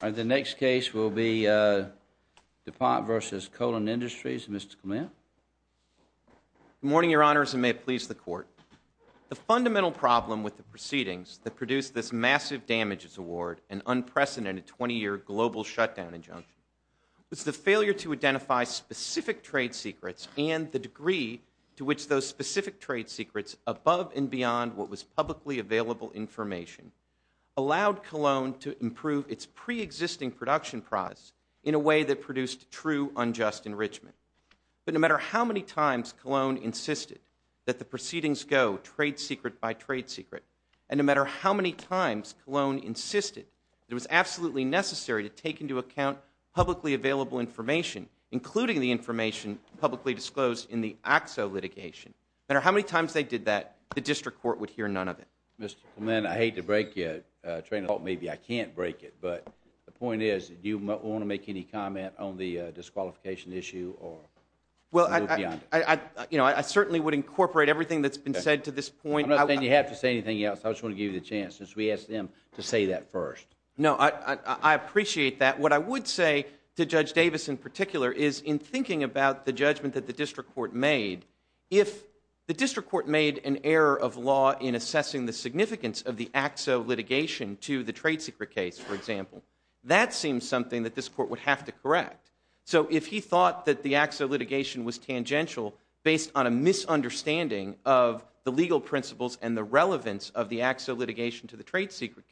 The next case will be DuPont v. Kolon Industries. Mr. Clement. Good morning, Your Honors, and may it please the Court. The fundamental problem with the proceedings that produced this massive damages award, an unprecedented 20-year global shutdown injunction, was the failure to identify specific trade secrets and the degree to which those specific trade secrets, above and beyond what was publicly available information, allowed Kolon to improve its pre-existing production prize in a way that produced true unjust enrichment. But no matter how many times Kolon insisted that the proceedings go trade secret by trade secret, and no matter how many times Kolon insisted it was absolutely necessary to take into account publicly available information, including the information publicly disclosed in the AXO litigation, no matter how many times they did that, the District Court would hear none of it. Mr. Clement, I hate to break you, train of thought, maybe I can't break it, but the point is, do you want to make any comment on the disqualification issue? Well, I, you know, I certainly would incorporate everything that's been said to this point. I'm not saying you have to say anything else. I just want to give you the chance, since we asked them to say that first. No, I appreciate that. What I would say to Judge Davis in particular is, in thinking about the judgment that the District Court made, if the District Court made an error of law in assessing the significance of the AXO litigation to the trade secret case, for example, that seems something that this Court would have to correct. So if he thought that the AXO litigation was tangential based on a misunderstanding of the legal principles and the relevance of the AXO litigation to the trade secret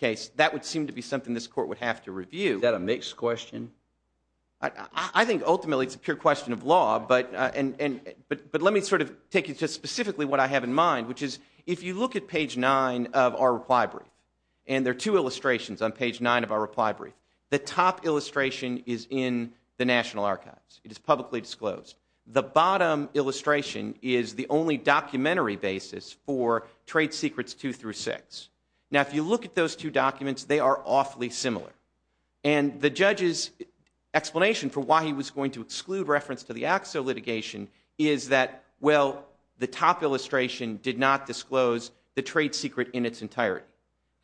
case, that would seem to be something this Court would have to review. Is that a mixed question? I think ultimately it's a pure question of law, but let me sort of take you to specifically what I have in mind, which is, if you look at page 9 of our reply brief, and there are two illustrations on page 9 of our reply brief, the top illustration is in the National Archives. It is publicly disclosed. The bottom illustration is the only documentary basis for trade secrets 2 through 6. Now, if you look at those two documents, they are awfully similar. And the judge's explanation for why he was going to exclude reference to the AXO litigation is that, well, the top illustration did not disclose the trade secret in its entirety.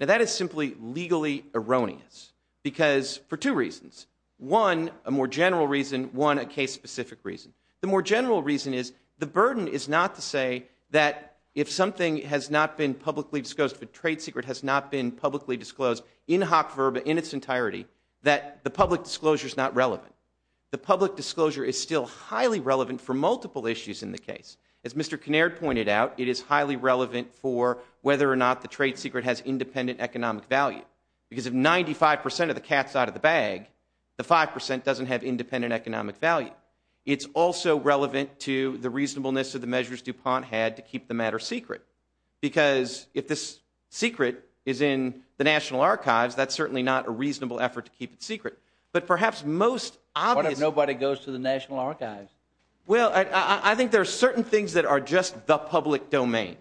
Now, that is simply legally erroneous, because for two reasons. One, a more general reason. One, a case-specific reason. The more general reason is the burden is not to say that if something has not been publicly disclosed, if a trade secret has not been publicly disclosed in hoc verba, in its entirety, that the public disclosure is not relevant. The public disclosure is still highly relevant for multiple issues in the case. As Mr. Kinnaird pointed out, it is highly relevant for whether or not the trade secret has independent economic value. Because if 95% of the cat's out of the bag, the 5% doesn't have independent economic value. It's also relevant to the reasonableness of the measures DuPont had to keep the matter secret. Because if this secret is in the National Archives, that's certainly not a reasonable effort to keep it secret. But perhaps most obvious... What if nobody goes to the National Archives? Well, I think there are certain things that are just the public domain.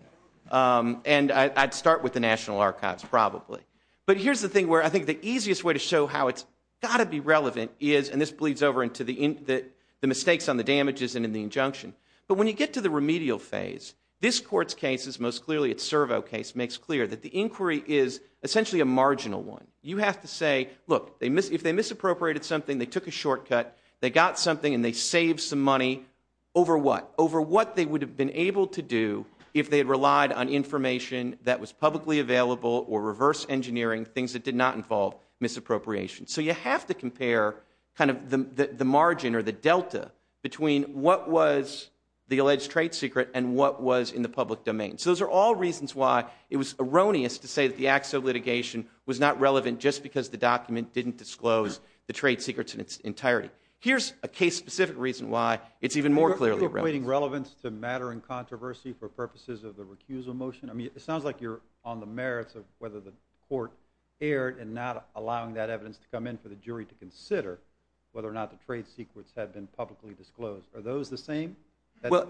And I'd start with the National Archives, probably. But here's the thing where I think the easiest way to show how it's got to be relevant is, and this bleeds over into the mistakes on the damages and in the injunction. But when you get to the remedial phase, this Court's case is most clearly, its Servo case, makes clear that the inquiry is essentially a marginal one. You have to say, look, if they misappropriated something, they took a shortcut, they got something and they saved some money, over what? Over what they would have been able to do if they had relied on information that was publicly available or reverse engineering things that did not involve misappropriation. So you have to compare the margin or the delta between what was the alleged trade secret and what was in the public domain. So those are all reasons why it was erroneous to say that the acts of litigation was not relevant just because the document didn't disclose the trade secrets in its entirety. Here's a case-specific reason why it's even more clearly relevant. Are you equating relevance to matter and controversy for purposes of the recusal motion? I mean, it sounds like you're on the merits of whether the Court erred and not allowing that evidence to come in for the jury to consider whether or not the trade secrets had been publicly disclosed. Are those the same? Well,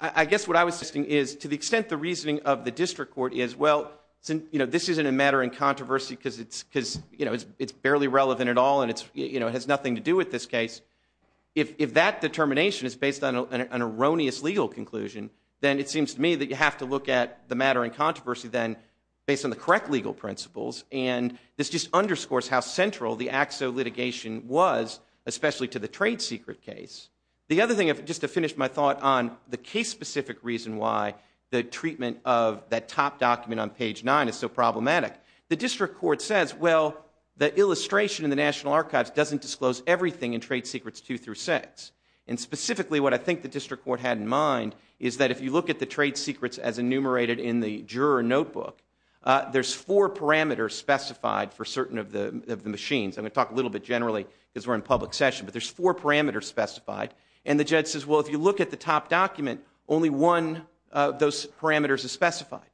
I guess what I was suggesting is, to the extent the reasoning of the District Court is, well, this isn't a matter and controversy because it's barely relevant at all and it has nothing to do with this case. If that determination is based on an erroneous legal conclusion, then it seems to me that you have to look at the matter and controversy then based on the correct legal principles. And this just underscores how central the acts of litigation was, especially to the trade secret case. The other thing, just to finish my thought on the case-specific reason why the treatment of that top document on page 9 is so problematic, the District Court says, well, the illustration in the National Archives doesn't disclose everything in trade secrets 2 through 6. And specifically, what I think the District Court had in mind is that if you look at the trade secrets as enumerated in the juror notebook, there's four parameters specified for certain of the machines. I'm going to talk a little bit generally because we're in public session, but there's four parameters specified. And the judge says, well, if you look at the top document, only one of those parameters is specified.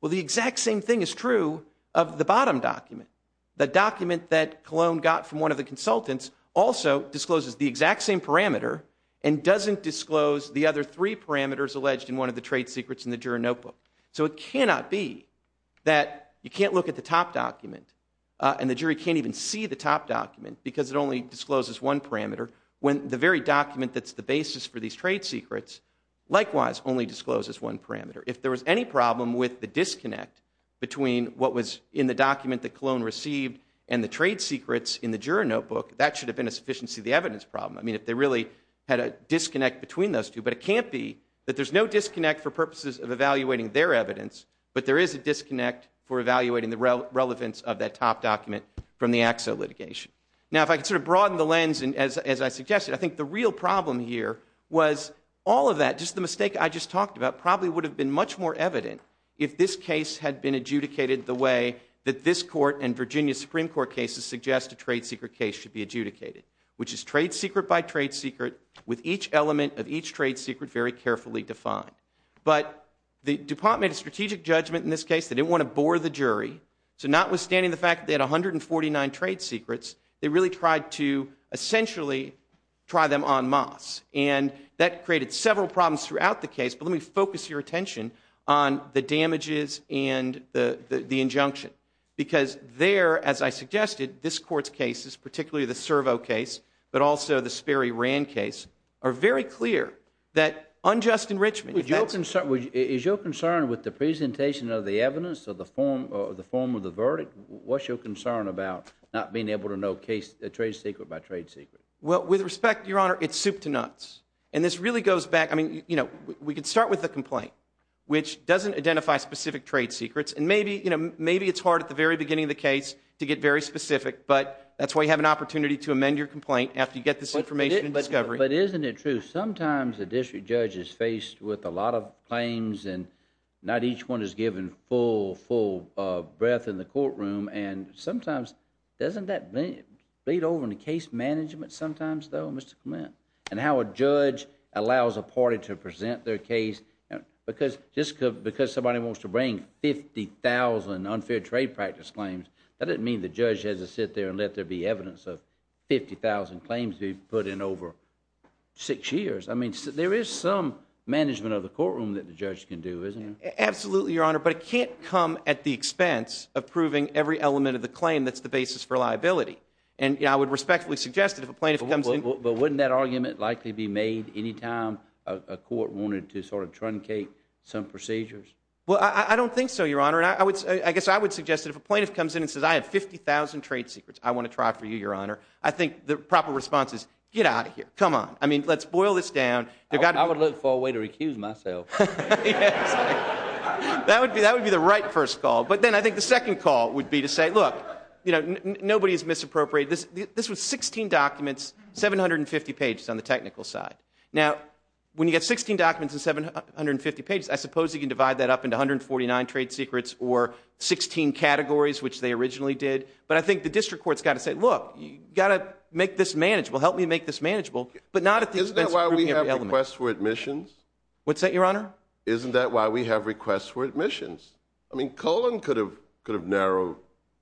Well, the exact same thing is true of the bottom document. The document that Colon got from one of the consultants also discloses the exact same parameter and doesn't disclose the other three parameters alleged in one of the trade secrets in the juror notebook. So it cannot be that you can't look at the top document and the jury can't even see the top document because it only discloses one parameter when the very document that's the basis for these trade secrets likewise only discloses one parameter. If there was any problem with the disconnect between what was in the document that Colon received and the trade secrets in the juror notebook, that should have been a sufficiency of the evidence problem. I mean, if they really had a disconnect between those two. But it can't be that there's no disconnect for purposes of evaluating their evidence, but there is a disconnect for evaluating the relevance of that top document from the AXA litigation. Now, if I could sort of broaden the lens as I suggested, I think the real problem here was all of that, just the mistake I just talked about, probably would have been much more evident if this case had been adjudicated the way that this court and Virginia Supreme Court cases suggest a trade secret case should be adjudicated, which is trade secret by trade secret with each element of each trade secret very carefully defined. But the department of strategic judgment in this case, they didn't want to bore the jury. So notwithstanding the fact that they had 149 trade secrets, they really tried to essentially try them en masse. And that created several problems throughout the case. But let me focus your attention on the damages and the injunction. Because there, as I suggested, this court's cases, particularly the Servo case, but also the Sperry Rand case, are very clear that unjust enrichment. Is your concern with the presentation of the evidence of the form of the verdict? What's your concern about not being able to know trade secret by trade secret? Well, with respect, Your Honor, it's soup to nuts. And this really goes back. I mean, we could start with the complaint, which doesn't identify specific trade secrets. And maybe it's hard at the very beginning of the case to get very specific. But that's why you have an opportunity to amend your complaint after you get this information and discovery. But isn't it true, sometimes the district judge is faced with a lot of claims. And not each one is given full, full breath in the courtroom. And sometimes, doesn't that bleed over into case management sometimes, though, Mr. Clement? And how a judge allows a party to present their case. Because somebody wants to bring 50,000 unfair trade practice claims, that doesn't mean the judge has to sit there and let there be evidence of 50,000 claims we've put in over six years. I mean, there is some management of the courtroom that the judge can do, isn't there? Absolutely, Your Honor. But it can't come at the expense of proving every element of the claim that's the basis for liability. And I would respectfully suggest that if a plaintiff comes in. But wouldn't that argument likely be made any time a court wanted to sort of truncate some procedures? Well, I don't think so, Your Honor. And I guess I would suggest that if a plaintiff comes in and says, I have 50,000 trade secrets I want to try for you, Your Honor, I think the proper response is, get out of here. Come on. I mean, let's boil this down. I would look for a way to recuse myself. That would be the right first call. But then I think the second call would be to say, look, nobody's misappropriated. This was 16 documents, 750 pages on the technical side. Now, when you get 16 documents and 750 pages, I suppose you can divide that up into 149 trade secrets or 16 categories, which they originally did. But I think the district court's got to say, look, you've got to make this manageable. Help me make this manageable. But not at the expense of premium element. Isn't that why we have requests for admissions? What's that, Your Honor? Isn't that why we have requests for admissions? I mean, Cohen could have narrowed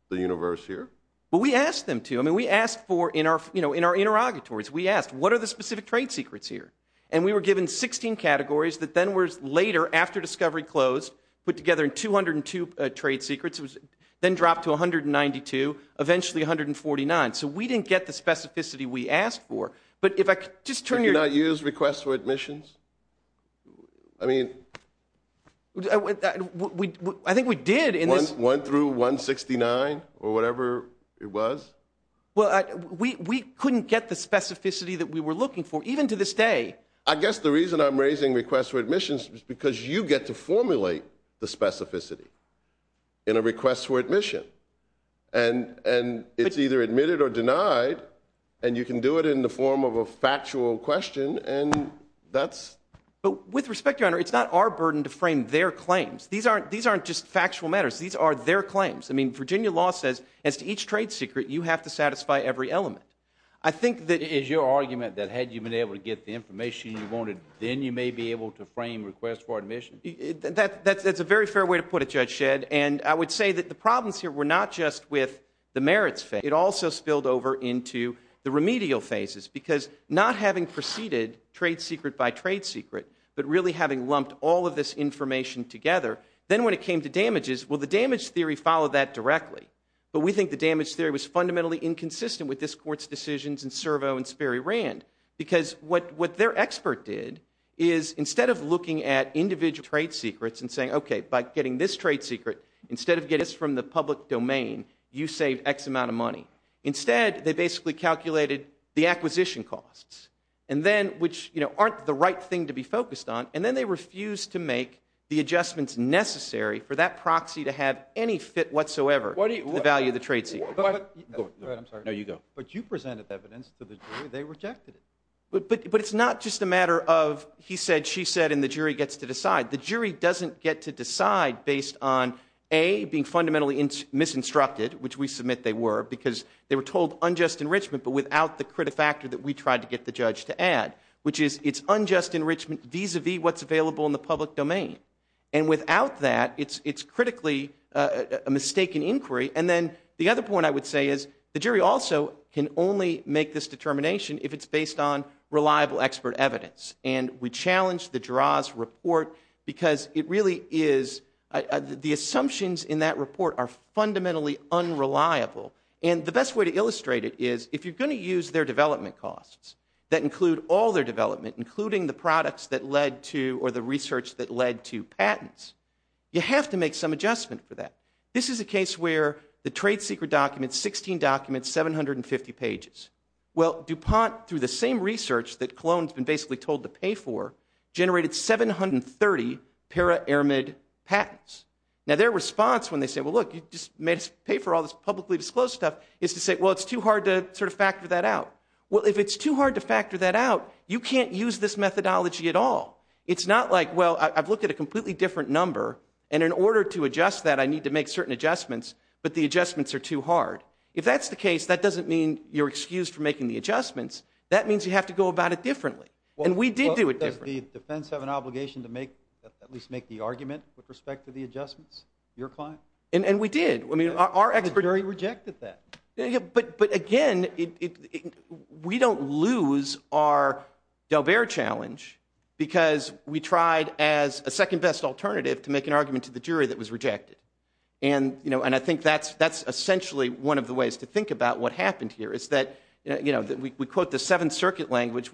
the universe here. Well, we asked them to. I mean, we asked for, in our interrogatories, we asked, what are the specific trade secrets here? And we were given 16 categories that then were later, after discovery closed, put together in 202 trade secrets. It was then dropped to 192, eventually 149. So we didn't get the specificity we asked for. But if I could just turn your- Did you not use requests for admissions? I mean- I think we did in this- One through 169 or whatever it was? Well, we couldn't get the specificity I guess the reason I'm raising requests for admissions is because you get to formulate the specificity in a request for admission. And it's either admitted or denied and you can do it in the form of a factual question and that's- But with respect, Your Honor, it's not our burden to frame their claims. These aren't just factual matters. These are their claims. I mean, Virginia law says, as to each trade secret, you have to satisfy every element. I think that- Is your argument that had you been able to get the information you wanted, then you may be able to frame requests for admission? That's a very fair way to put it, Judge Shedd. And I would say that the problems here were not just with the merits phase. It also spilled over into the remedial phases because not having preceded trade secret by trade secret, but really having lumped all of this information together, then when it came to damages, well, the damage theory followed that directly. But we think the damage theory was fundamentally inconsistent with this court's decisions and Servo and Sperry-Rand. Because what their expert did is, instead of looking at individual trade secrets and saying, okay, by getting this trade secret, instead of getting this from the public domain, you save X amount of money. Instead, they basically calculated the acquisition costs, and then, which, you know, aren't the right thing to be focused on. And then they refused to make the adjustments necessary for that proxy to have any fit whatsoever to the value of the trade secret. Go ahead, I'm sorry. No, you go. But you presented evidence to the jury, they rejected it. But it's not just a matter of, he said, she said, and the jury gets to decide. The jury doesn't get to decide based on, A, being fundamentally misinstructed, which we submit they were, because they were told unjust enrichment, but without the criti-factor that we tried to get the judge to add, which is, it's unjust enrichment vis-a-vis what's available in the public domain. And without that, it's critically a mistaken inquiry. And then the other point I would say is, the jury also can only make this determination if it's based on reliable expert evidence. And we challenge the Jura's report because it really is, the assumptions in that report are fundamentally unreliable. And the best way to illustrate it is, if you're gonna use their development costs that include all their development, including the products that led to, or the research that led to patents, you have to make some adjustment for that. This is a case where the trade secret documents, 16 documents, 750 pages. Well, DuPont, through the same research that Cologne's been basically told to pay for, generated 730 para-ermid patents. Now, their response when they say, well, look, you just made us pay for all this publicly disclosed stuff, is to say, well, it's too hard to sort of factor that out. Well, if it's too hard to factor that out, you can't use this methodology at all. It's not like, well, I've looked at a completely different number, and in order to adjust that, I need to make certain adjustments, but the adjustments are too hard. If that's the case, that doesn't mean you're excused from making the adjustments. That means you have to go about it differently. And we did do it differently. Does the defense have an obligation to at least make the argument with respect to the adjustments? Your client? And we did. Our expert jury rejected that. But again, we don't lose our D'Albert challenge because we tried as a second best alternative to make an argument to the jury that was rejected. And I think that's essentially one of the ways to think about what happened here, is that we quote the Seventh Circuit language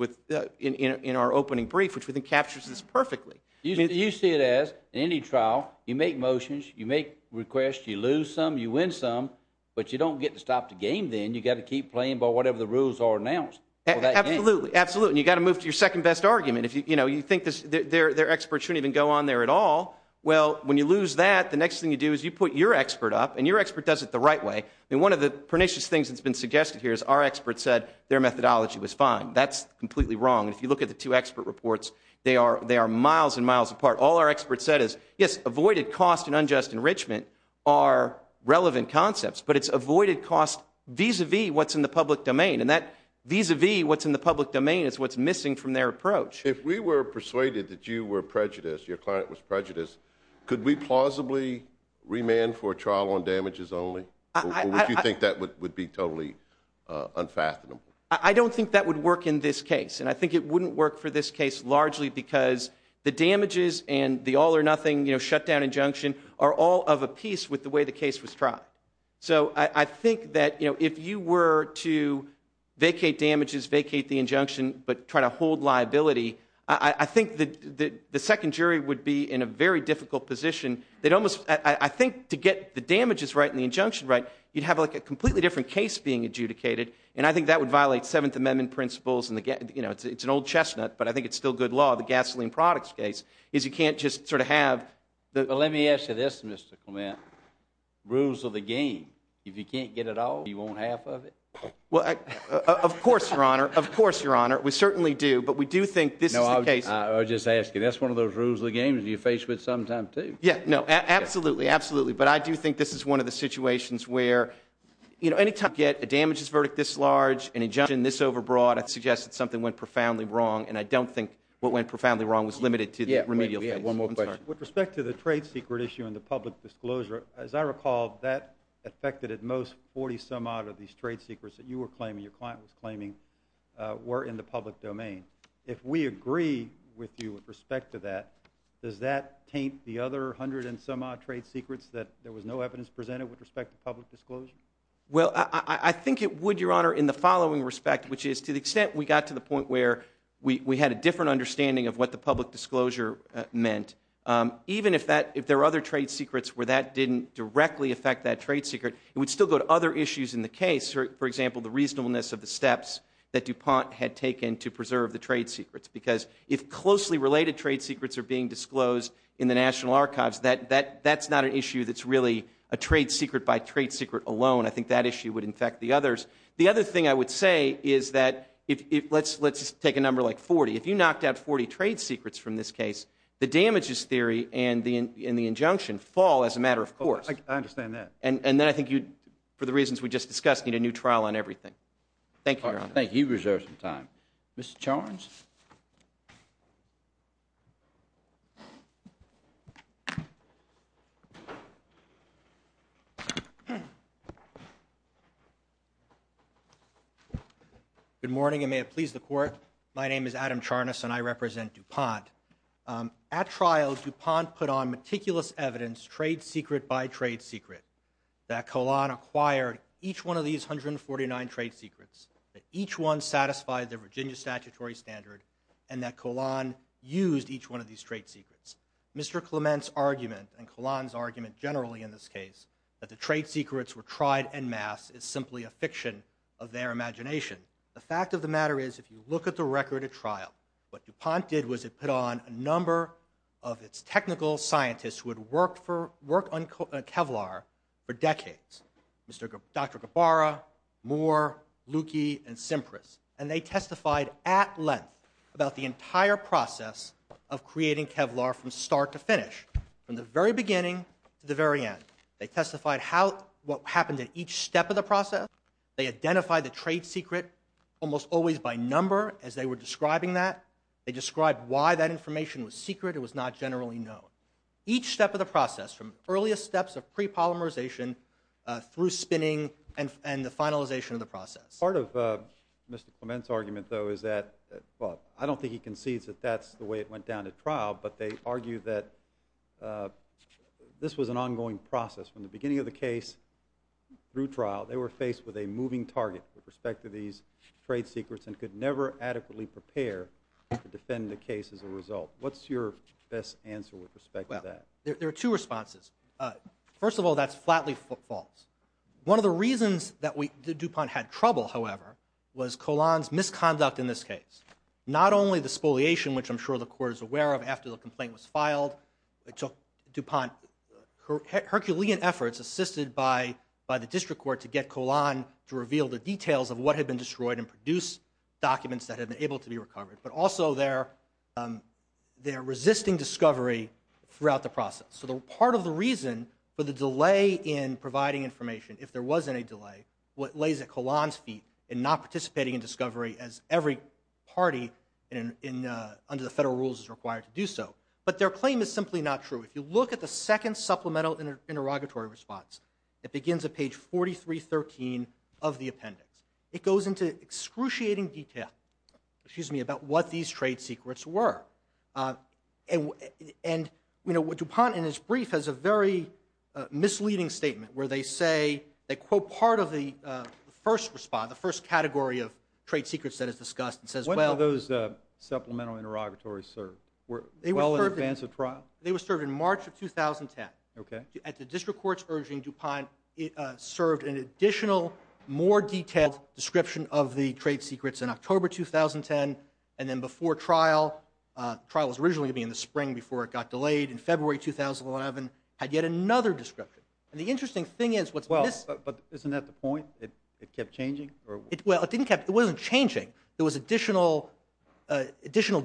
in our opening brief, which I think captures this perfectly. You see it as, in any trial, you make motions, you make requests, you lose some, you win some, but you don't get to stop the game then. You gotta keep playing by whatever the rules are announced. Absolutely, absolutely. And you gotta move to your second best argument. If you think their experts shouldn't even go on there at all, well, when you lose that, the next thing you do is you put your expert up, and your expert does it the right way. And one of the pernicious things that's been suggested here is our expert said their methodology was fine. That's completely wrong. And if you look at the two expert reports, they are miles and miles apart. All our expert said is, yes, avoided cost and unjust enrichment are relevant concepts, but it's avoided cost vis-a-vis what's in the public domain. And that vis-a-vis what's in the public domain is what's missing from their approach. If we were persuaded that you were prejudiced, your client was prejudiced, could we plausibly remand for a trial on damages only? Or would you think that would be totally unfathomable? I don't think that would work in this case. And I think it wouldn't work for this case largely because the damages and the all or nothing shutdown injunction are all of a piece with the way the case was tried. So I think that if you were to vacate damages, vacate the injunction, but try to hold liability, I think that the second jury would be in a very difficult position. They'd almost, I think to get the damages right and the injunction right, you'd have like a completely different case being adjudicated. And I think that would violate Seventh Amendment principles and it's an old chestnut, but I think it's still good law. The gasoline products case is you can't just sort of have. But let me ask you this, Mr. Clement. Rules of the game. If you can't get it all, you want half of it? Well, of course, Your Honor. Of course, Your Honor, we certainly do. But we do think this is the case. No, I was just asking. That's one of those rules of the game that you face with sometimes too. Yeah, no, absolutely, absolutely. But I do think this is one of the situations where, you know, any time you get a damages verdict this large, an injunction this overbroad, I'd suggest that something went profoundly wrong and I don't think what went profoundly wrong was limited to the remedial phase. Yeah, wait, we have one more question. With respect to the trade secret issue and the public disclosure, as I recall, that affected at most 40 some odd of these trade secrets that you were claiming, your client was claiming, were in the public domain. If we agree with you with respect to that, does that taint the other 100 and some odd trade secrets that there was no evidence presented with respect to public disclosure? Well, I think it would, Your Honor, in the following respect, which is to the extent we got to the point where we had a different understanding of what the public disclosure meant, even if there are other trade secrets where that didn't directly affect that trade secret, it would still go to other issues in the case. For example, the reasonableness of the steps that DuPont had taken to preserve the trade secrets, because if closely related trade secrets are being disclosed in the National Archives, that's not an issue that's really a trade secret by trade secret alone. I think that issue would infect the others. The other thing I would say is that, let's take a number like 40. If you knocked out 40 trade secrets from this case, the damages theory and the injunction fall as a matter of course. I understand that. And then I think you, for the reasons we just discussed, need a new trial on everything. Thank you, Your Honor. Thank you. You reserve some time. Mr. Charnes? Good morning, and may it please the Court. My name is Adam Charnas, and I represent DuPont. At trial, DuPont put on meticulous evidence, trade secret by trade secret, that Collin acquired each one of these 149 trade secrets, that each one satisfied the Virginia statutory standard, and that Collin used each one of these trade secrets. Mr. Clement's argument, and Collin's argument generally in this case, that the trade secrets were tried en masse is simply a fiction of their imagination. The fact of the matter is, if you look at the record at trial, what DuPont did was it put on a number of its technical scientists who had worked on Kevlar for decades. Dr. Gabbara, Moore, Lukey, and Simpras. And they testified at length about the entire process of creating Kevlar from start to finish, from the very beginning to the very end. They testified what happened at each step of the process. They identified the trade secret almost always by number as they were describing that. They described why that information was secret or was not generally known. Each step of the process, from earliest steps of pre-polymerization through spinning and the finalization of the process. Part of Mr. Clement's argument, though, is that, well, I don't think he concedes that that's the way it went down at trial, but they argue that this was an ongoing process. From the beginning of the case through trial, they were faced with a moving target with respect to these trade secrets and could never adequately prepare to defend the case as a result. What's your best answer with respect to that? There are two responses. First of all, that's flatly false. One of the reasons that DuPont had trouble, however, was Colon's misconduct in this case. Not only the spoliation, which I'm sure the court is aware of after the complaint was filed, it took DuPont Herculean efforts assisted by the district court to get Colon to reveal the details of what had been destroyed and produce documents that had been able to be recovered, but also their resisting discovery throughout the process. So part of the reason for the delay in providing information, if there was any delay, what lays at Colon's feet in not participating in discovery as every party under the federal rules is required to do so. But their claim is simply not true. If you look at the second supplemental interrogatory response, it begins at page 4313 of the appendix. It goes into excruciating detail, excuse me, about what these trade secrets were. And, you know, DuPont in its brief has a very misleading statement where they say, they quote part of the first response, the first category of trade secrets that is discussed. It says, well- When were those supplemental interrogatories served? Were they well in advance of trial? They were served in March of 2010. Okay. At the district court's urging, DuPont served an additional, more detailed description of the trade secrets in October, 2010. And then before trial, trial was originally gonna be in the spring before it got delayed in February, 2011, had yet another description. And the interesting thing is what's- Well, but isn't that the point? It kept changing? Well, it didn't kept, it wasn't changing. There was additional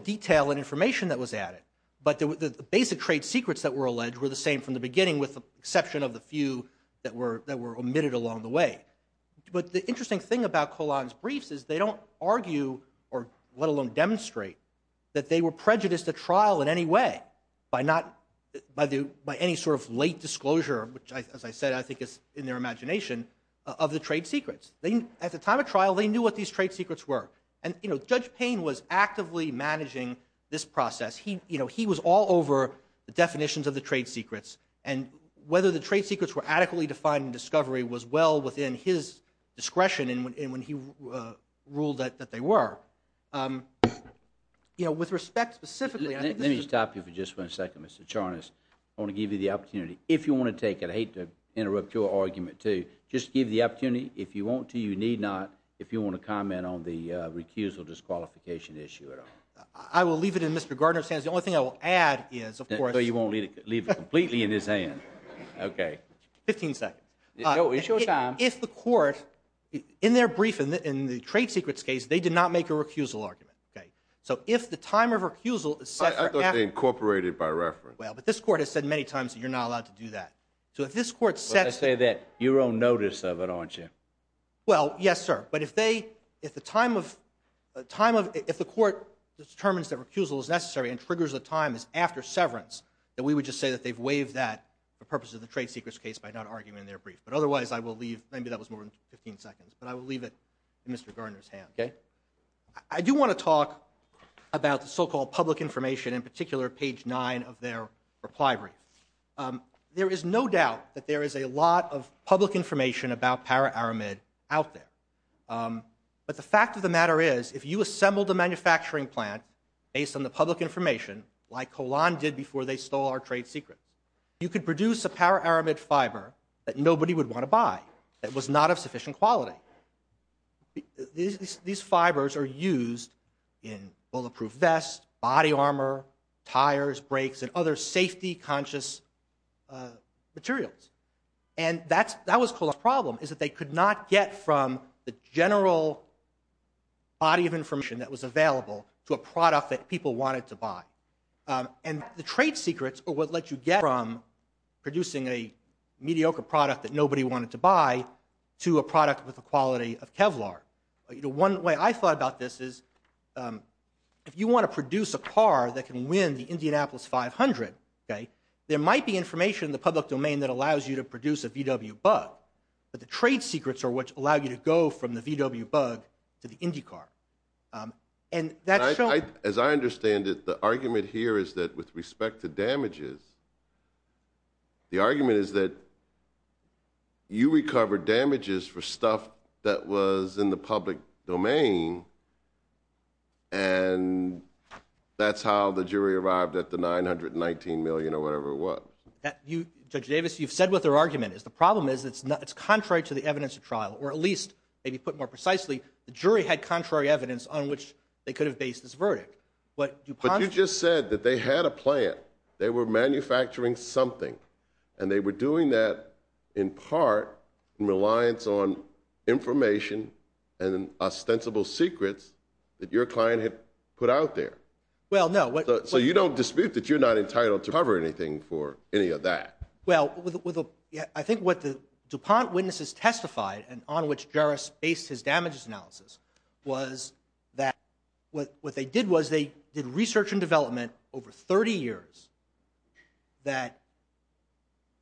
detail and information that was added. But the basic trade secrets that were alleged were the same from the beginning with the exception of the few that were omitted along the way. But the interesting thing about Collin's briefs is they don't argue or let alone demonstrate that they were prejudiced at trial in any way by not, by any sort of late disclosure, which as I said, I think is in their imagination, of the trade secrets. At the time of trial, they knew what these trade secrets were. And Judge Payne was actively managing this process. He was all over the definitions of the trade secrets and whether the trade secrets were adequately defined in discovery was well within his discretion and when he ruled that they were. You know, with respect specifically- Let me stop you for just one second, Mr. Charnas. I want to give you the opportunity, if you want to take it, I hate to interrupt your argument too, just give the opportunity, if you want to, you need not, if you want to comment on the recusal, disqualification issue at all. I will leave it in Mr. Gardner's hands. The only thing I will add is, of course- No, you won't leave it completely in his hand. Okay. 15 seconds. No, it's your time. If the court, in their brief, in the trade secrets case, they did not make a recusal argument, okay? So if the time of recusal is set for- I thought they incorporated it by reference. Well, but this court has said many times that you're not allowed to do that. So if this court sets- But they say that your own notice of it, aren't you? Well, yes, sir. But if they, if the time of, if the court determines that recusal is necessary and triggers the time is after severance, then we would just say that they've waived that for purposes of the trade secrets case by not arguing in their brief. But otherwise, I will leave, maybe that was more than 15 seconds, but I will leave it in Mr. Gardner's hands. Okay. I do want to talk about the so-called public information, in particular, page nine of their reply brief. There is no doubt that there is a lot of public information about para-aramid out there. But the fact of the matter is, if you assembled a manufacturing plant based on the public information, like Hollande did before they stole our trade secrets, you could produce a para-aramid fiber that nobody would want to buy, that was not of sufficient quality. These fibers are used in bulletproof vests, body armor, tires, brakes, and other safety-conscious materials. And that was Hollande's problem, is that they could not get from the general body of information that was available to a product that people wanted to buy. And the trade secrets are what let you get from producing a mediocre product that nobody wanted to buy to a product with the quality of Kevlar. You know, one way I thought about this is, if you want to produce a car that can win the Indianapolis 500, okay, there might be information in the public domain that allows you to produce a VW Bug, but the trade secrets are what allow you to go from the VW Bug to the IndyCar. And that's shown... As I understand it, the argument here is that with respect to damages, the argument is that you recovered damages for stuff that was in the public domain, and that's how the jury arrived at the $919 million or whatever it was. Judge Davis, you've said what their argument is. The problem is, it's contrary to the evidence of trial, or at least, maybe put more precisely, the jury had contrary evidence on which they could have based this verdict. What DuPont... But you just said that they had a plan. They were manufacturing something, and they were doing that in part in reliance on information and ostensible secrets that your client had put out there. Well, no, what... So you don't dispute that you're not entitled to cover anything for any of that? Well, with a... I think what the DuPont witnesses testified and on which Jarrus based his damages analysis was that what they did was, they did research and development over 30 years that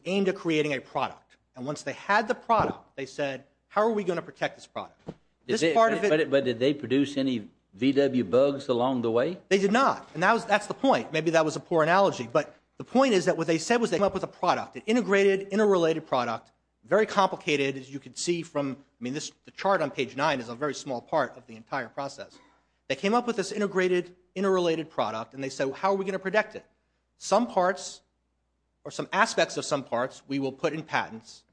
aimed at creating a product, and once they had the product, they said, how are we going to protect this product? This part of it... But did they produce any VW bugs along the way? They did not, and that's the point. Maybe that was a poor analogy, but the point is that what they said was they came up with a product, an integrated, interrelated product, very complicated, as you can see from... I mean, the chart on page nine is a very small part of the entire process. They came up with this integrated, interrelated product, and they said, well, how are we going to protect it? Some parts or some aspects of some parts we will put in patents,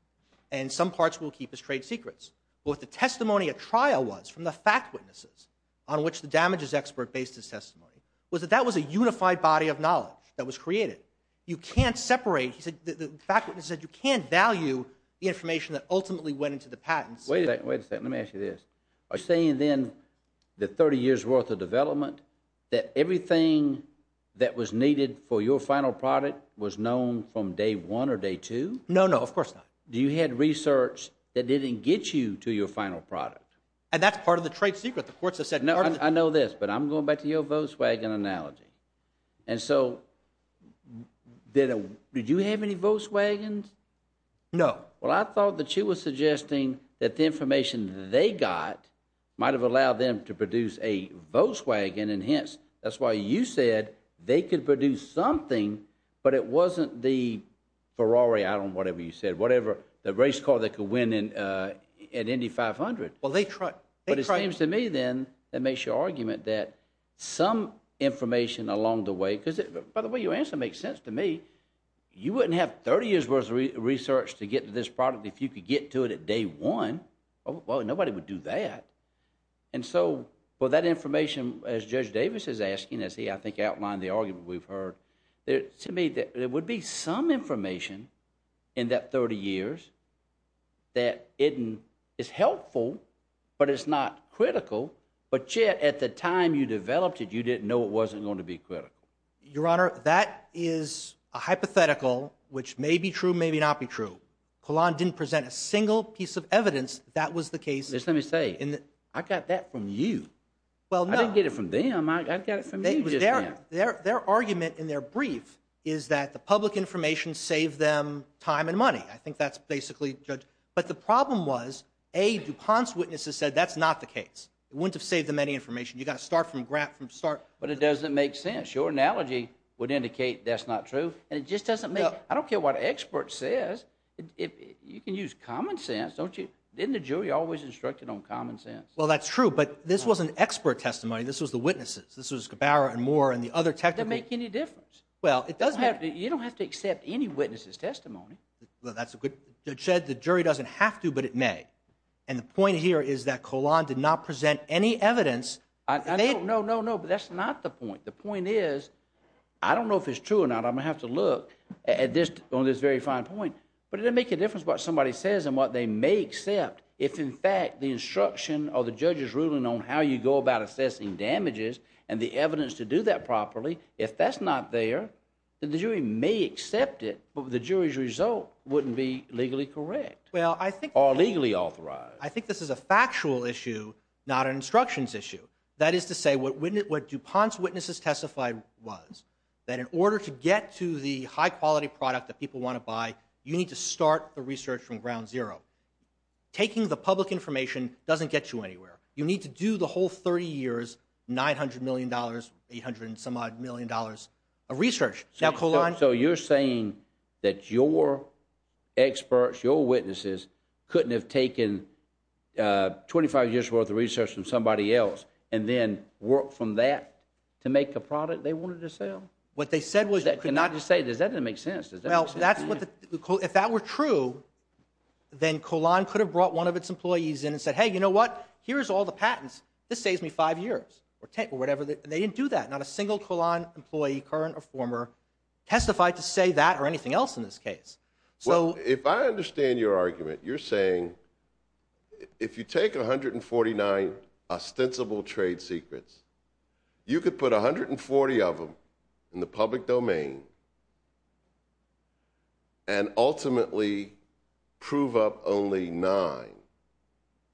and some parts we'll keep as trade secrets. But what the testimony at trial was from the fact witnesses on which the damages expert based his testimony was that that was a unified body of knowledge that was created. You can't separate... The fact witness said you can't value the information that ultimately went into the patents. Wait a second, let me ask you this. Are you saying then the 30 years' worth of development, that everything that was needed for your final product was known from day one or day two? No, no, of course not. Do you have research that didn't get you to your final product? And that's part of the trade secret. The courts have said part of the... No, I know this, but I'm going back to your Volkswagen analogy. And so, did you have any Volkswagens? No. Well, I thought that you were suggesting that the information they got might have allowed them to produce a Volkswagen, and hence, that's why you said they could produce something, but it wasn't the Ferrari, I don't know, whatever you said, whatever, the race car that could win an Indy 500. Well, they tried... But it seems to me then, that makes your argument that some information along the way... Because, by the way, your answer makes sense to me. You wouldn't have 30 years' worth of research to get to this product if you could get to it at day one. Well, nobody would do that. And so, well, that information, as Judge Davis is asking, as he, I think, outlined the argument we've heard, to me, there would be some information in that 30 years that is helpful, but it's not critical, but yet, at the time you developed it, you didn't know it wasn't going to be critical. Your Honor, that is a hypothetical, which may be true, may not be true. Collin didn't present a single piece of evidence that was the case... Just let me say, I got that from you. I didn't get it from them. I got it from you just now. Their argument in their brief is that the public information saved them time and money. I think that's basically... But the problem was, A, DuPont's witnesses said that's not the case. It wouldn't have saved them any information. You've got to start from the start. But it doesn't make sense. Your analogy would indicate that's not true, and it just doesn't make... I don't care what an expert says. You can use common sense, don't you? Didn't the jury always instruct you on common sense? Well, that's true, but this wasn't expert testimony. This was the witnesses. This was Cabara and Moore and the other technical... It doesn't make any difference. Well, it doesn't have to... You don't have to accept any witness's testimony. Well, that's a good... Judge said the jury doesn't have to, but it may. And the point here is that Collan did not present any evidence... No, no, no, but that's not the point. The point is, I don't know if it's true or not. I'm going to have to look at this, on this very fine point. But it doesn't make a difference what somebody says and what they may accept. If, in fact, the instruction or the judge's ruling on how you go about assessing damages and the evidence to do that properly, if that's not there, then the jury may accept it, but the jury's result wouldn't be legally correct. Well, I think... Or legally authorized. I think this is a factual issue, not an instructions issue. That is to say, what DuPont's witnesses testified was, that in order to get to the high-quality product that people want to buy, you need to start the research from ground zero. Taking the public information doesn't get you anywhere. You need to do the whole 30 years, $900 million, $800-some-odd million of research. Now, Collan... So you're saying that your experts, your witnesses, couldn't have taken 25 years' worth of research from somebody else and then worked from that to make a product they wanted to sell? What they said was... I'm not just saying... That doesn't make sense. Does that make sense? If that were true, then Collan could have brought one of its employees in and said, hey, you know what? Here's all the patents. This saves me five years or whatever. They didn't do that. Not a single Collan employee, current or former, testified to say that or anything else in this case. So... If I understand your argument, you're saying, if you take 149 ostensible trade secrets, you could put 140 of them in the public domain and ultimately prove up only nine,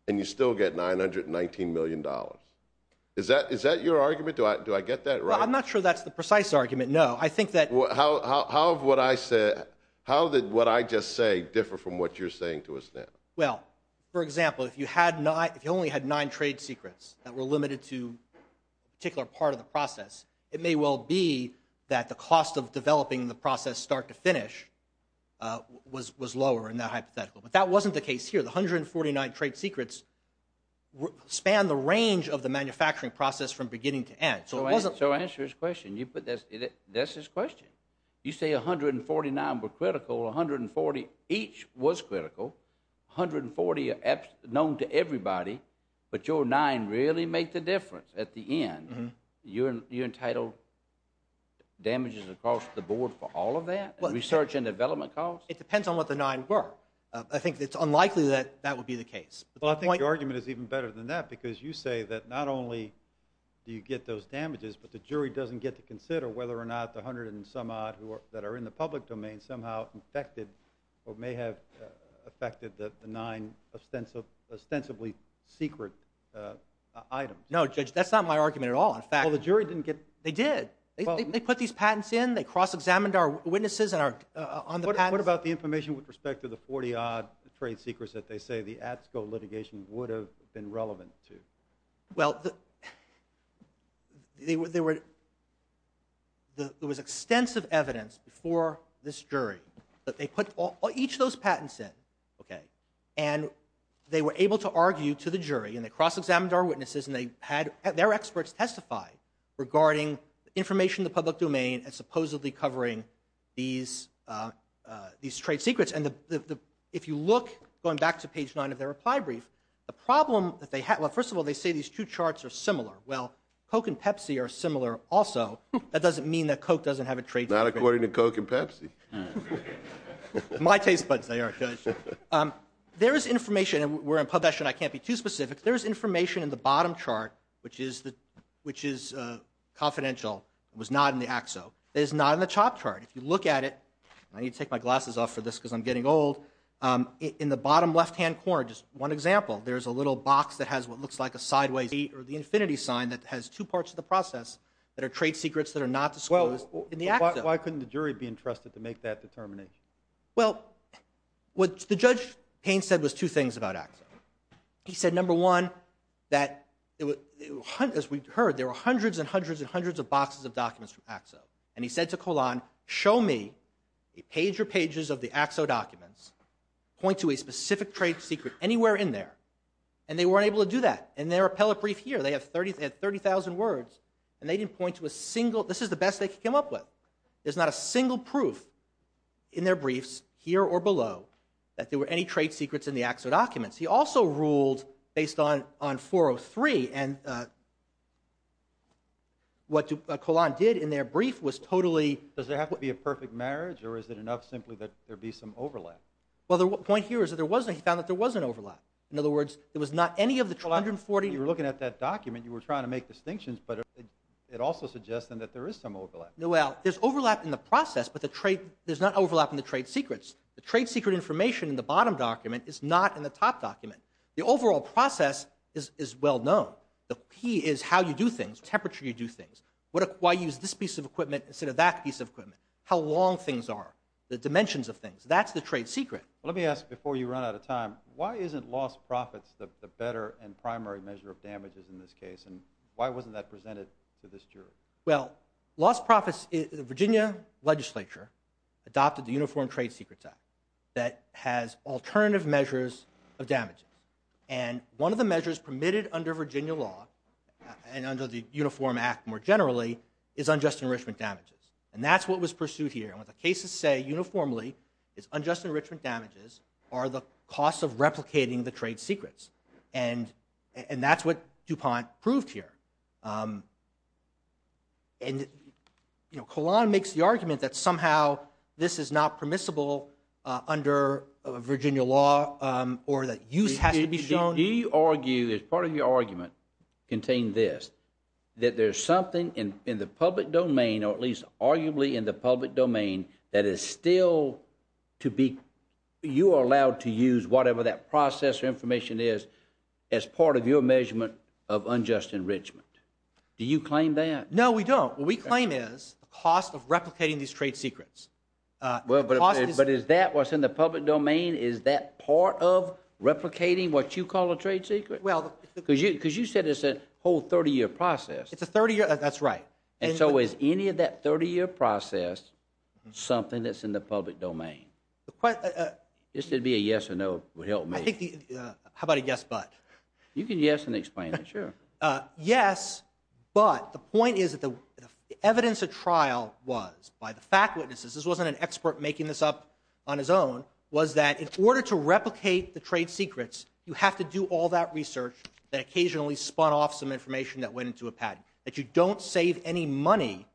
and you still get $919 million. Is that your argument? Do I get that right? I'm not sure that's the precise argument, no. I think that... How did what I just say differ from what you're saying to us now? Well, for example, if you only had nine trade secrets that were limited to a particular part of the process, it may well be that the cost of developing the process start to finish was lower in that hypothetical. But that wasn't the case here. The 149 trade secrets span the range of the manufacturing process from beginning to end. So it wasn't... So answer his question. That's his question. You say 149 were critical, 140 each was critical, 140 are known to everybody, but your nine really make the difference at the end. You're entitled damages across the board for all of that? Research and development costs? It depends on what the nine were. I think it's unlikely that that would be the case. Well, I think your argument is even better than that because you say that not only do you get those damages, but the jury doesn't get to consider whether or not the hundred and some odd that are in the public domain somehow infected or may have affected the nine ostensibly secret items. No, Judge, that's not my argument at all. In fact... Well, the jury didn't get... They did. They put these patents in, they cross-examined our witnesses on the patents. What about the information with respect to the 40-odd trade secrets that they say the ATSCO litigation would have been relevant to? Well, there was extensive evidence before this jury that they put each of those patents in, and they were able to argue to the jury, and they cross-examined our witnesses, and their experts testified regarding information in the public domain and supposedly covering these trade secrets. And if you look, going back to page 9 of their reply brief, the problem that they had... Well, first of all, they say these two charts are similar. Well, Coke and Pepsi are similar also. That doesn't mean that Coke doesn't have a trade secret. Not according to Coke and Pepsi. My taste buds, they are, Judge. There is information, and we're in pubescent, I can't be too specific. There is information in the bottom chart, which is confidential, was not in the ATSCO. It is not in the top chart. If you look at it, and I need to take my glasses off for this because I'm getting old, in the bottom left-hand corner, just one example, there's a little box that has what looks like a sideways A or the infinity sign that has two parts of the process that are trade secrets that are not disclosed in the ATSCO. Why couldn't the jury be entrusted to make that determination? Well, what Judge Payne said was two things about ATSCO. He said, number one, that, as we heard, there were hundreds and hundreds and hundreds of boxes of documents from ATSCO. And he said to Colon, show me a page or pages of the ATSCO documents, point to a specific trade secret anywhere in there. And they weren't able to do that. In their appellate brief here, they have 30,000 words, and they didn't point to a single, this is the best they could come up with. There's not a single proof in their briefs, here or below, that there were any trade secrets in the ATSCO documents. He also ruled based on 403, and what Colon did in their brief was totally, does there have to be a perfect marriage, or is it enough simply that there be some overlap? Well, the point here is that there wasn't, he found that there was an overlap. In other words, there was not any of the 240, you were looking at that document, you were trying to make distinctions, but it also suggests then that there is some overlap. No, well, there's overlap in the process, but there's not overlap in the trade secrets. The trade secret information in the bottom document is not in the top document. The overall process is well known. The key is how you do things, temperature you do things. Why use this piece of equipment instead of that, that piece of equipment. How long things are. The dimensions of things. That's the trade secret. Let me ask, before you run out of time, why isn't lost profits the better and primary measure of damages in this case, and why wasn't that presented to this jury? Well, lost profits, the Virginia legislature adopted the Uniform Trade Secrets Act that has alternative measures of damages, and one of the measures permitted under Virginia law, and under the Uniform Act more generally, is unjust enrichment damages, and that's what was pursued here, and what the cases say uniformly is unjust enrichment damages are the cost of replicating the trade secrets, and that's what DuPont proved here, and Collin makes the argument that somehow this is not permissible under Virginia law, or that use has to be shown. He argued, as part of your argument, contained this, that there's something in the public domain, or at least arguably in the public domain, that is still to be, you are allowed to use whatever that process or information is as part of your measurement of unjust enrichment. Do you claim that? No, we don't. What we claim is the cost of replicating these trade secrets. Well, but is that what's in the public domain? Is that part of replicating what you call a trade secret? Because you said it's a whole 30-year process. It's a 30-year, that's right. And so is any of that 30-year process something that's in the public domain? This would be a yes or no would help me. How about a yes, but? You can yes and explain it, sure. Yes, but the point is that the evidence of trial was, by the fact witnesses, this wasn't an expert making this up on his own, was that in order to replicate the trade secrets, you have to do all that research that occasionally spun off some information that went into a patent, that you don't save any money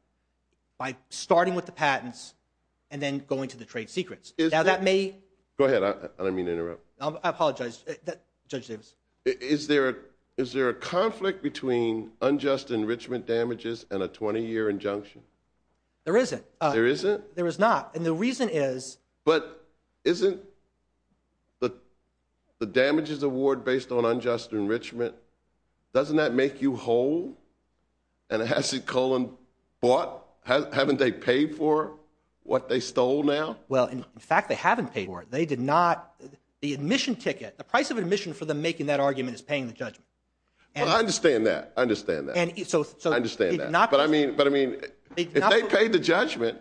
by starting with the patents and then going to the trade secrets. Now that may... Go ahead, I didn't mean to interrupt. I apologize, Judge Davis. Is there a conflict between unjust enrichment damages and a 20-year injunction? There isn't. There isn't? There is not, and the reason is... But isn't the damages award based on unjust enrichment, doesn't that make you whole? And has Cullen bought, haven't they paid for what they stole now? Well, in fact, they haven't paid for it. They did not... The admission ticket, the price of admission for them making that argument is paying the judgment. Well, I understand that. I understand that. I understand that. But I mean, if they paid the judgment...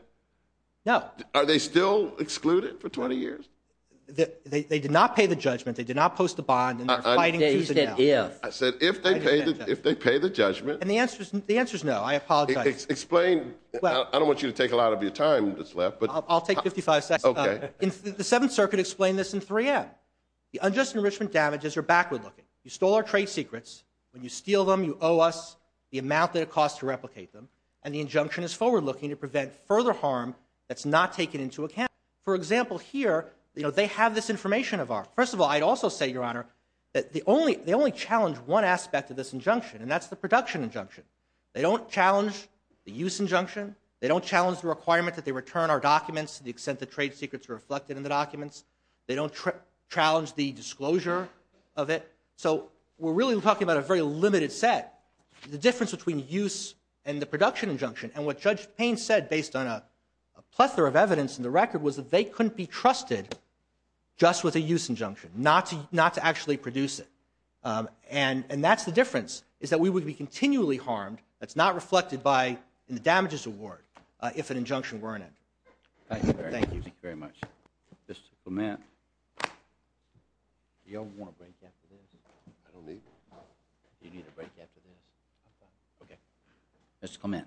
No. Are they still excluded for 20 years? They did not pay the judgment. They did not post the bond, and they're fighting to the death. I said, if they pay the judgment... And the answer is no. I apologize. Explain. I don't want you to take a lot of your time that's left, but... I'll take 55 seconds. Okay. The Seventh Circuit explained this in 3M. The unjust enrichment damages are backward-looking. You stole our trade secrets. When you steal them, you owe us the amount that it costs to replicate them, and the injunction is forward-looking to prevent further harm that's not taken into account. For example, here, they have this information of ours. First of all, I'd also say, Your Honor, that they only challenge one aspect of this injunction, and that's the production injunction. They don't challenge the use injunction. They don't challenge the requirement that they return our documents to the extent the trade secrets are reflected in the documents. They don't challenge the disclosure of it. So we're really talking about a very limited set. The difference between use and the production injunction and what Judge Payne said, based on a plethora of evidence in the record, was that they couldn't be trusted just with a use injunction, not to actually produce it. And that's the difference, is that we would be continually harmed that's not reflected in the damages award if an injunction weren't in. Thank you. Thank you very much. Mr. Clement. Do you all want a break after this? I don't need one. Do you need a break after this? I'm fine. Okay. Mr. Clement.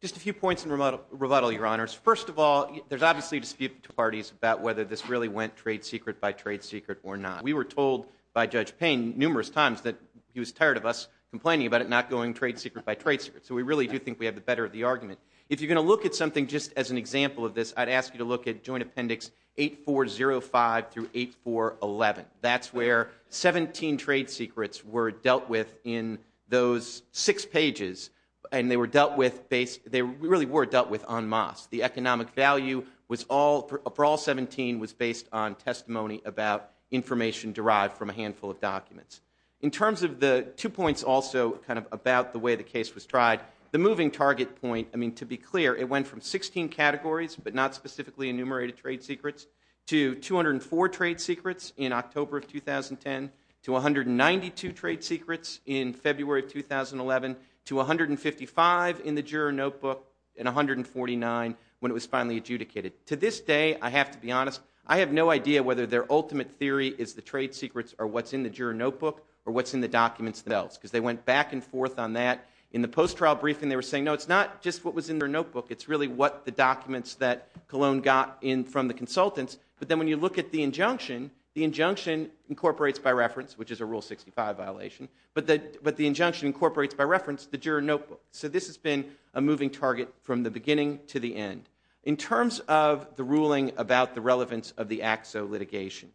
Just a few points in rebuttal, Your Honors. First of all, there's obviously a dispute between two parties about whether this really went trade secret by trade secret or not. We were told by Judge Payne numerous times that he was tired of us complaining about it not going trade secret by trade secret. So we really do think we have the better of the argument. If you're going to look at something just as an example of this, I'd ask you to look at Joint Appendix 8405 through 8411. That's where 17 trade secrets were dealt with in those six pages. And they really were dealt with en masse. The economic value for all 17 was based on testimony about information derived from a handful of documents. In terms of the two points also kind of about the way the case was tried, the moving target point, I mean, to be clear, it went from 16 categories, but not specifically enumerated trade secrets, to 204 trade secrets in October of 2010, to 192 trade secrets in February of 2011, to 155 in the juror notebook, and 149 when it was finally adjudicated. To this day, I have to be honest, I have no idea whether their ultimate theory is the trade secrets or what's in the juror notebook or what's in the documents themselves, because they went back and forth on that. In the post-trial briefing, they were saying, no, it's not just what was in their notebook, it's really what the documents that Colon got in from the consultants. But then when you look at the injunction, the injunction incorporates by reference, which is a Rule 65 violation, but the injunction incorporates by reference the juror notebook. So this has been a moving target from the beginning to the end. In terms of the ruling about the relevance of the AXO litigation,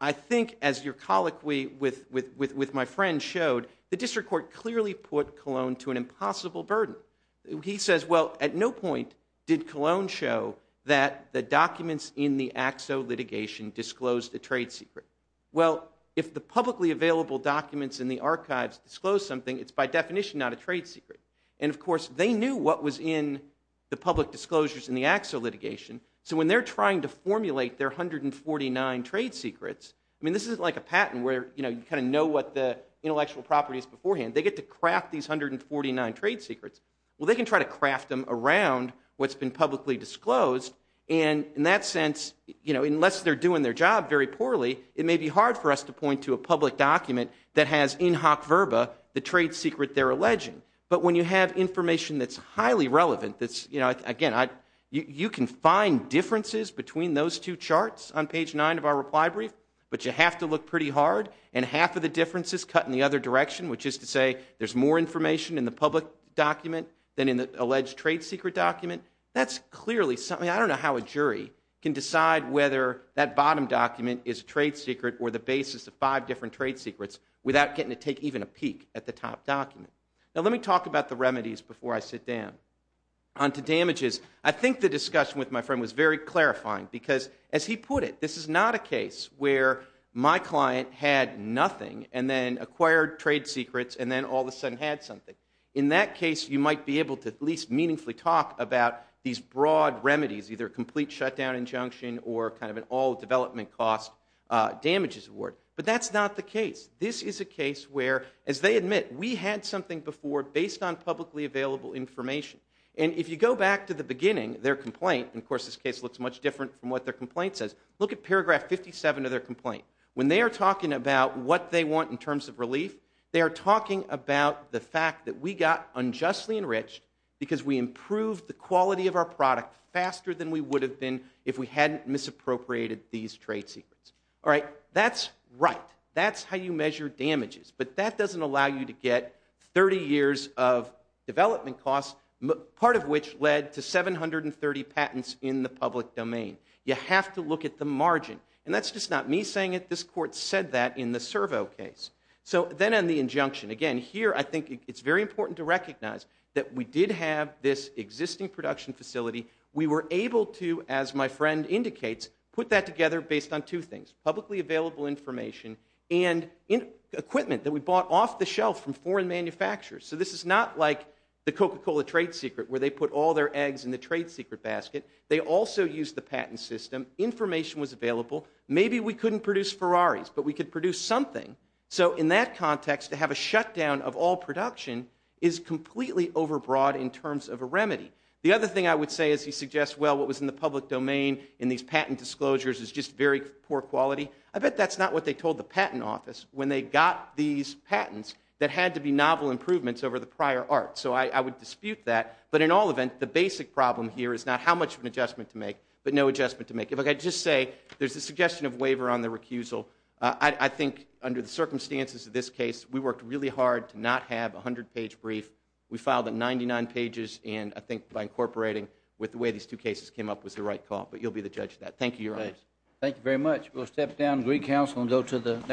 I think as your colloquy with my friend showed, the district court clearly put Colon to an impossible burden. He says, well, at no point did Colon show that the documents in the AXO litigation disclosed the trade secret. Well, if the publicly available documents in the archives disclose something, it's by definition not a trade secret. And of course, they knew what was in the public disclosures in the AXO litigation. So when they're trying to formulate their 149 trade secrets, I mean, this isn't like a patent where you kind of know what the intellectual property is beforehand. They get to craft these 149 trade secrets. Well, they can try to craft them around what's been publicly disclosed. And in that sense, unless they're doing their job very poorly, it may be hard for us to point to a public document that has in hoc verba the trade secret they're alleging. But when you have information that's highly relevant, that's, you know, again, you can find differences between those two charts on page nine of our reply brief, but you have to look pretty hard. And half of the difference is cut in the other direction, which is to say there's more information in the public document than in the alleged trade secret document. That's clearly something, I don't know how a jury can decide whether that bottom document is a trade secret or the basis of five different trade secrets without getting to take even a peek at the top document. Now, let me talk about the remedies before I sit down. On to damages, I think the discussion with my friend was very clarifying because, as he put it, this is not a case where my client had nothing and then acquired trade secrets and then all of a sudden had something. In that case, you might be able to at least meaningfully talk about these broad remedies, either a complete shutdown injunction or kind of an all-development cost damages award. But that's not the case. This is a case where, as they admit, we had something before based on publicly available information. And if you go back to the beginning, their complaint, and, of course, this case looks much different from what their complaint says, look at paragraph 57 of their complaint. When they are talking about what they want in terms of relief, they are talking about the fact that we got unjustly enriched because we improved the quality of our product faster than we would have been if we hadn't misappropriated these trade secrets. All right, that's right. That's how you measure damages. But that doesn't allow you to get 30 years of development costs, part of which led to 730 patents in the public domain. You have to look at the margin. And that's just not me saying it. This court said that in the Servo case. So then on the injunction, again, here I think it's very important to recognize that we did have this existing production facility. We were able to, as my friend indicates, put that together based on two things, publicly available information and equipment that we bought off the shelf from foreign manufacturers. So this is not like the Coca-Cola trade secret where they put all their eggs in the trade secret basket. They also used the patent system. Information was available. Maybe we couldn't produce Ferraris, but we could produce something. So in that context, to have a shutdown of all production is completely overbroad in terms of a remedy. The other thing I would say is he suggests, well, what was in the public domain in these patent disclosures is just very poor quality. I bet that's not what they told the patent office when they got these patents that had to be novel improvements over the prior art. So I would dispute that. But in all event, the basic problem here is not how much of an adjustment to make, but no adjustment to make. If I could just say, there's a suggestion of waiver on the recusal. I think under the circumstances of this case, we worked really hard to not have a 100-page brief. We filed it 99 pages, and I think by incorporating with the way these two cases came up was the right call. But you'll be the judge of that. Thank you, Your Honors. Thank you very much. We'll step down to Greek Council and go to the next case.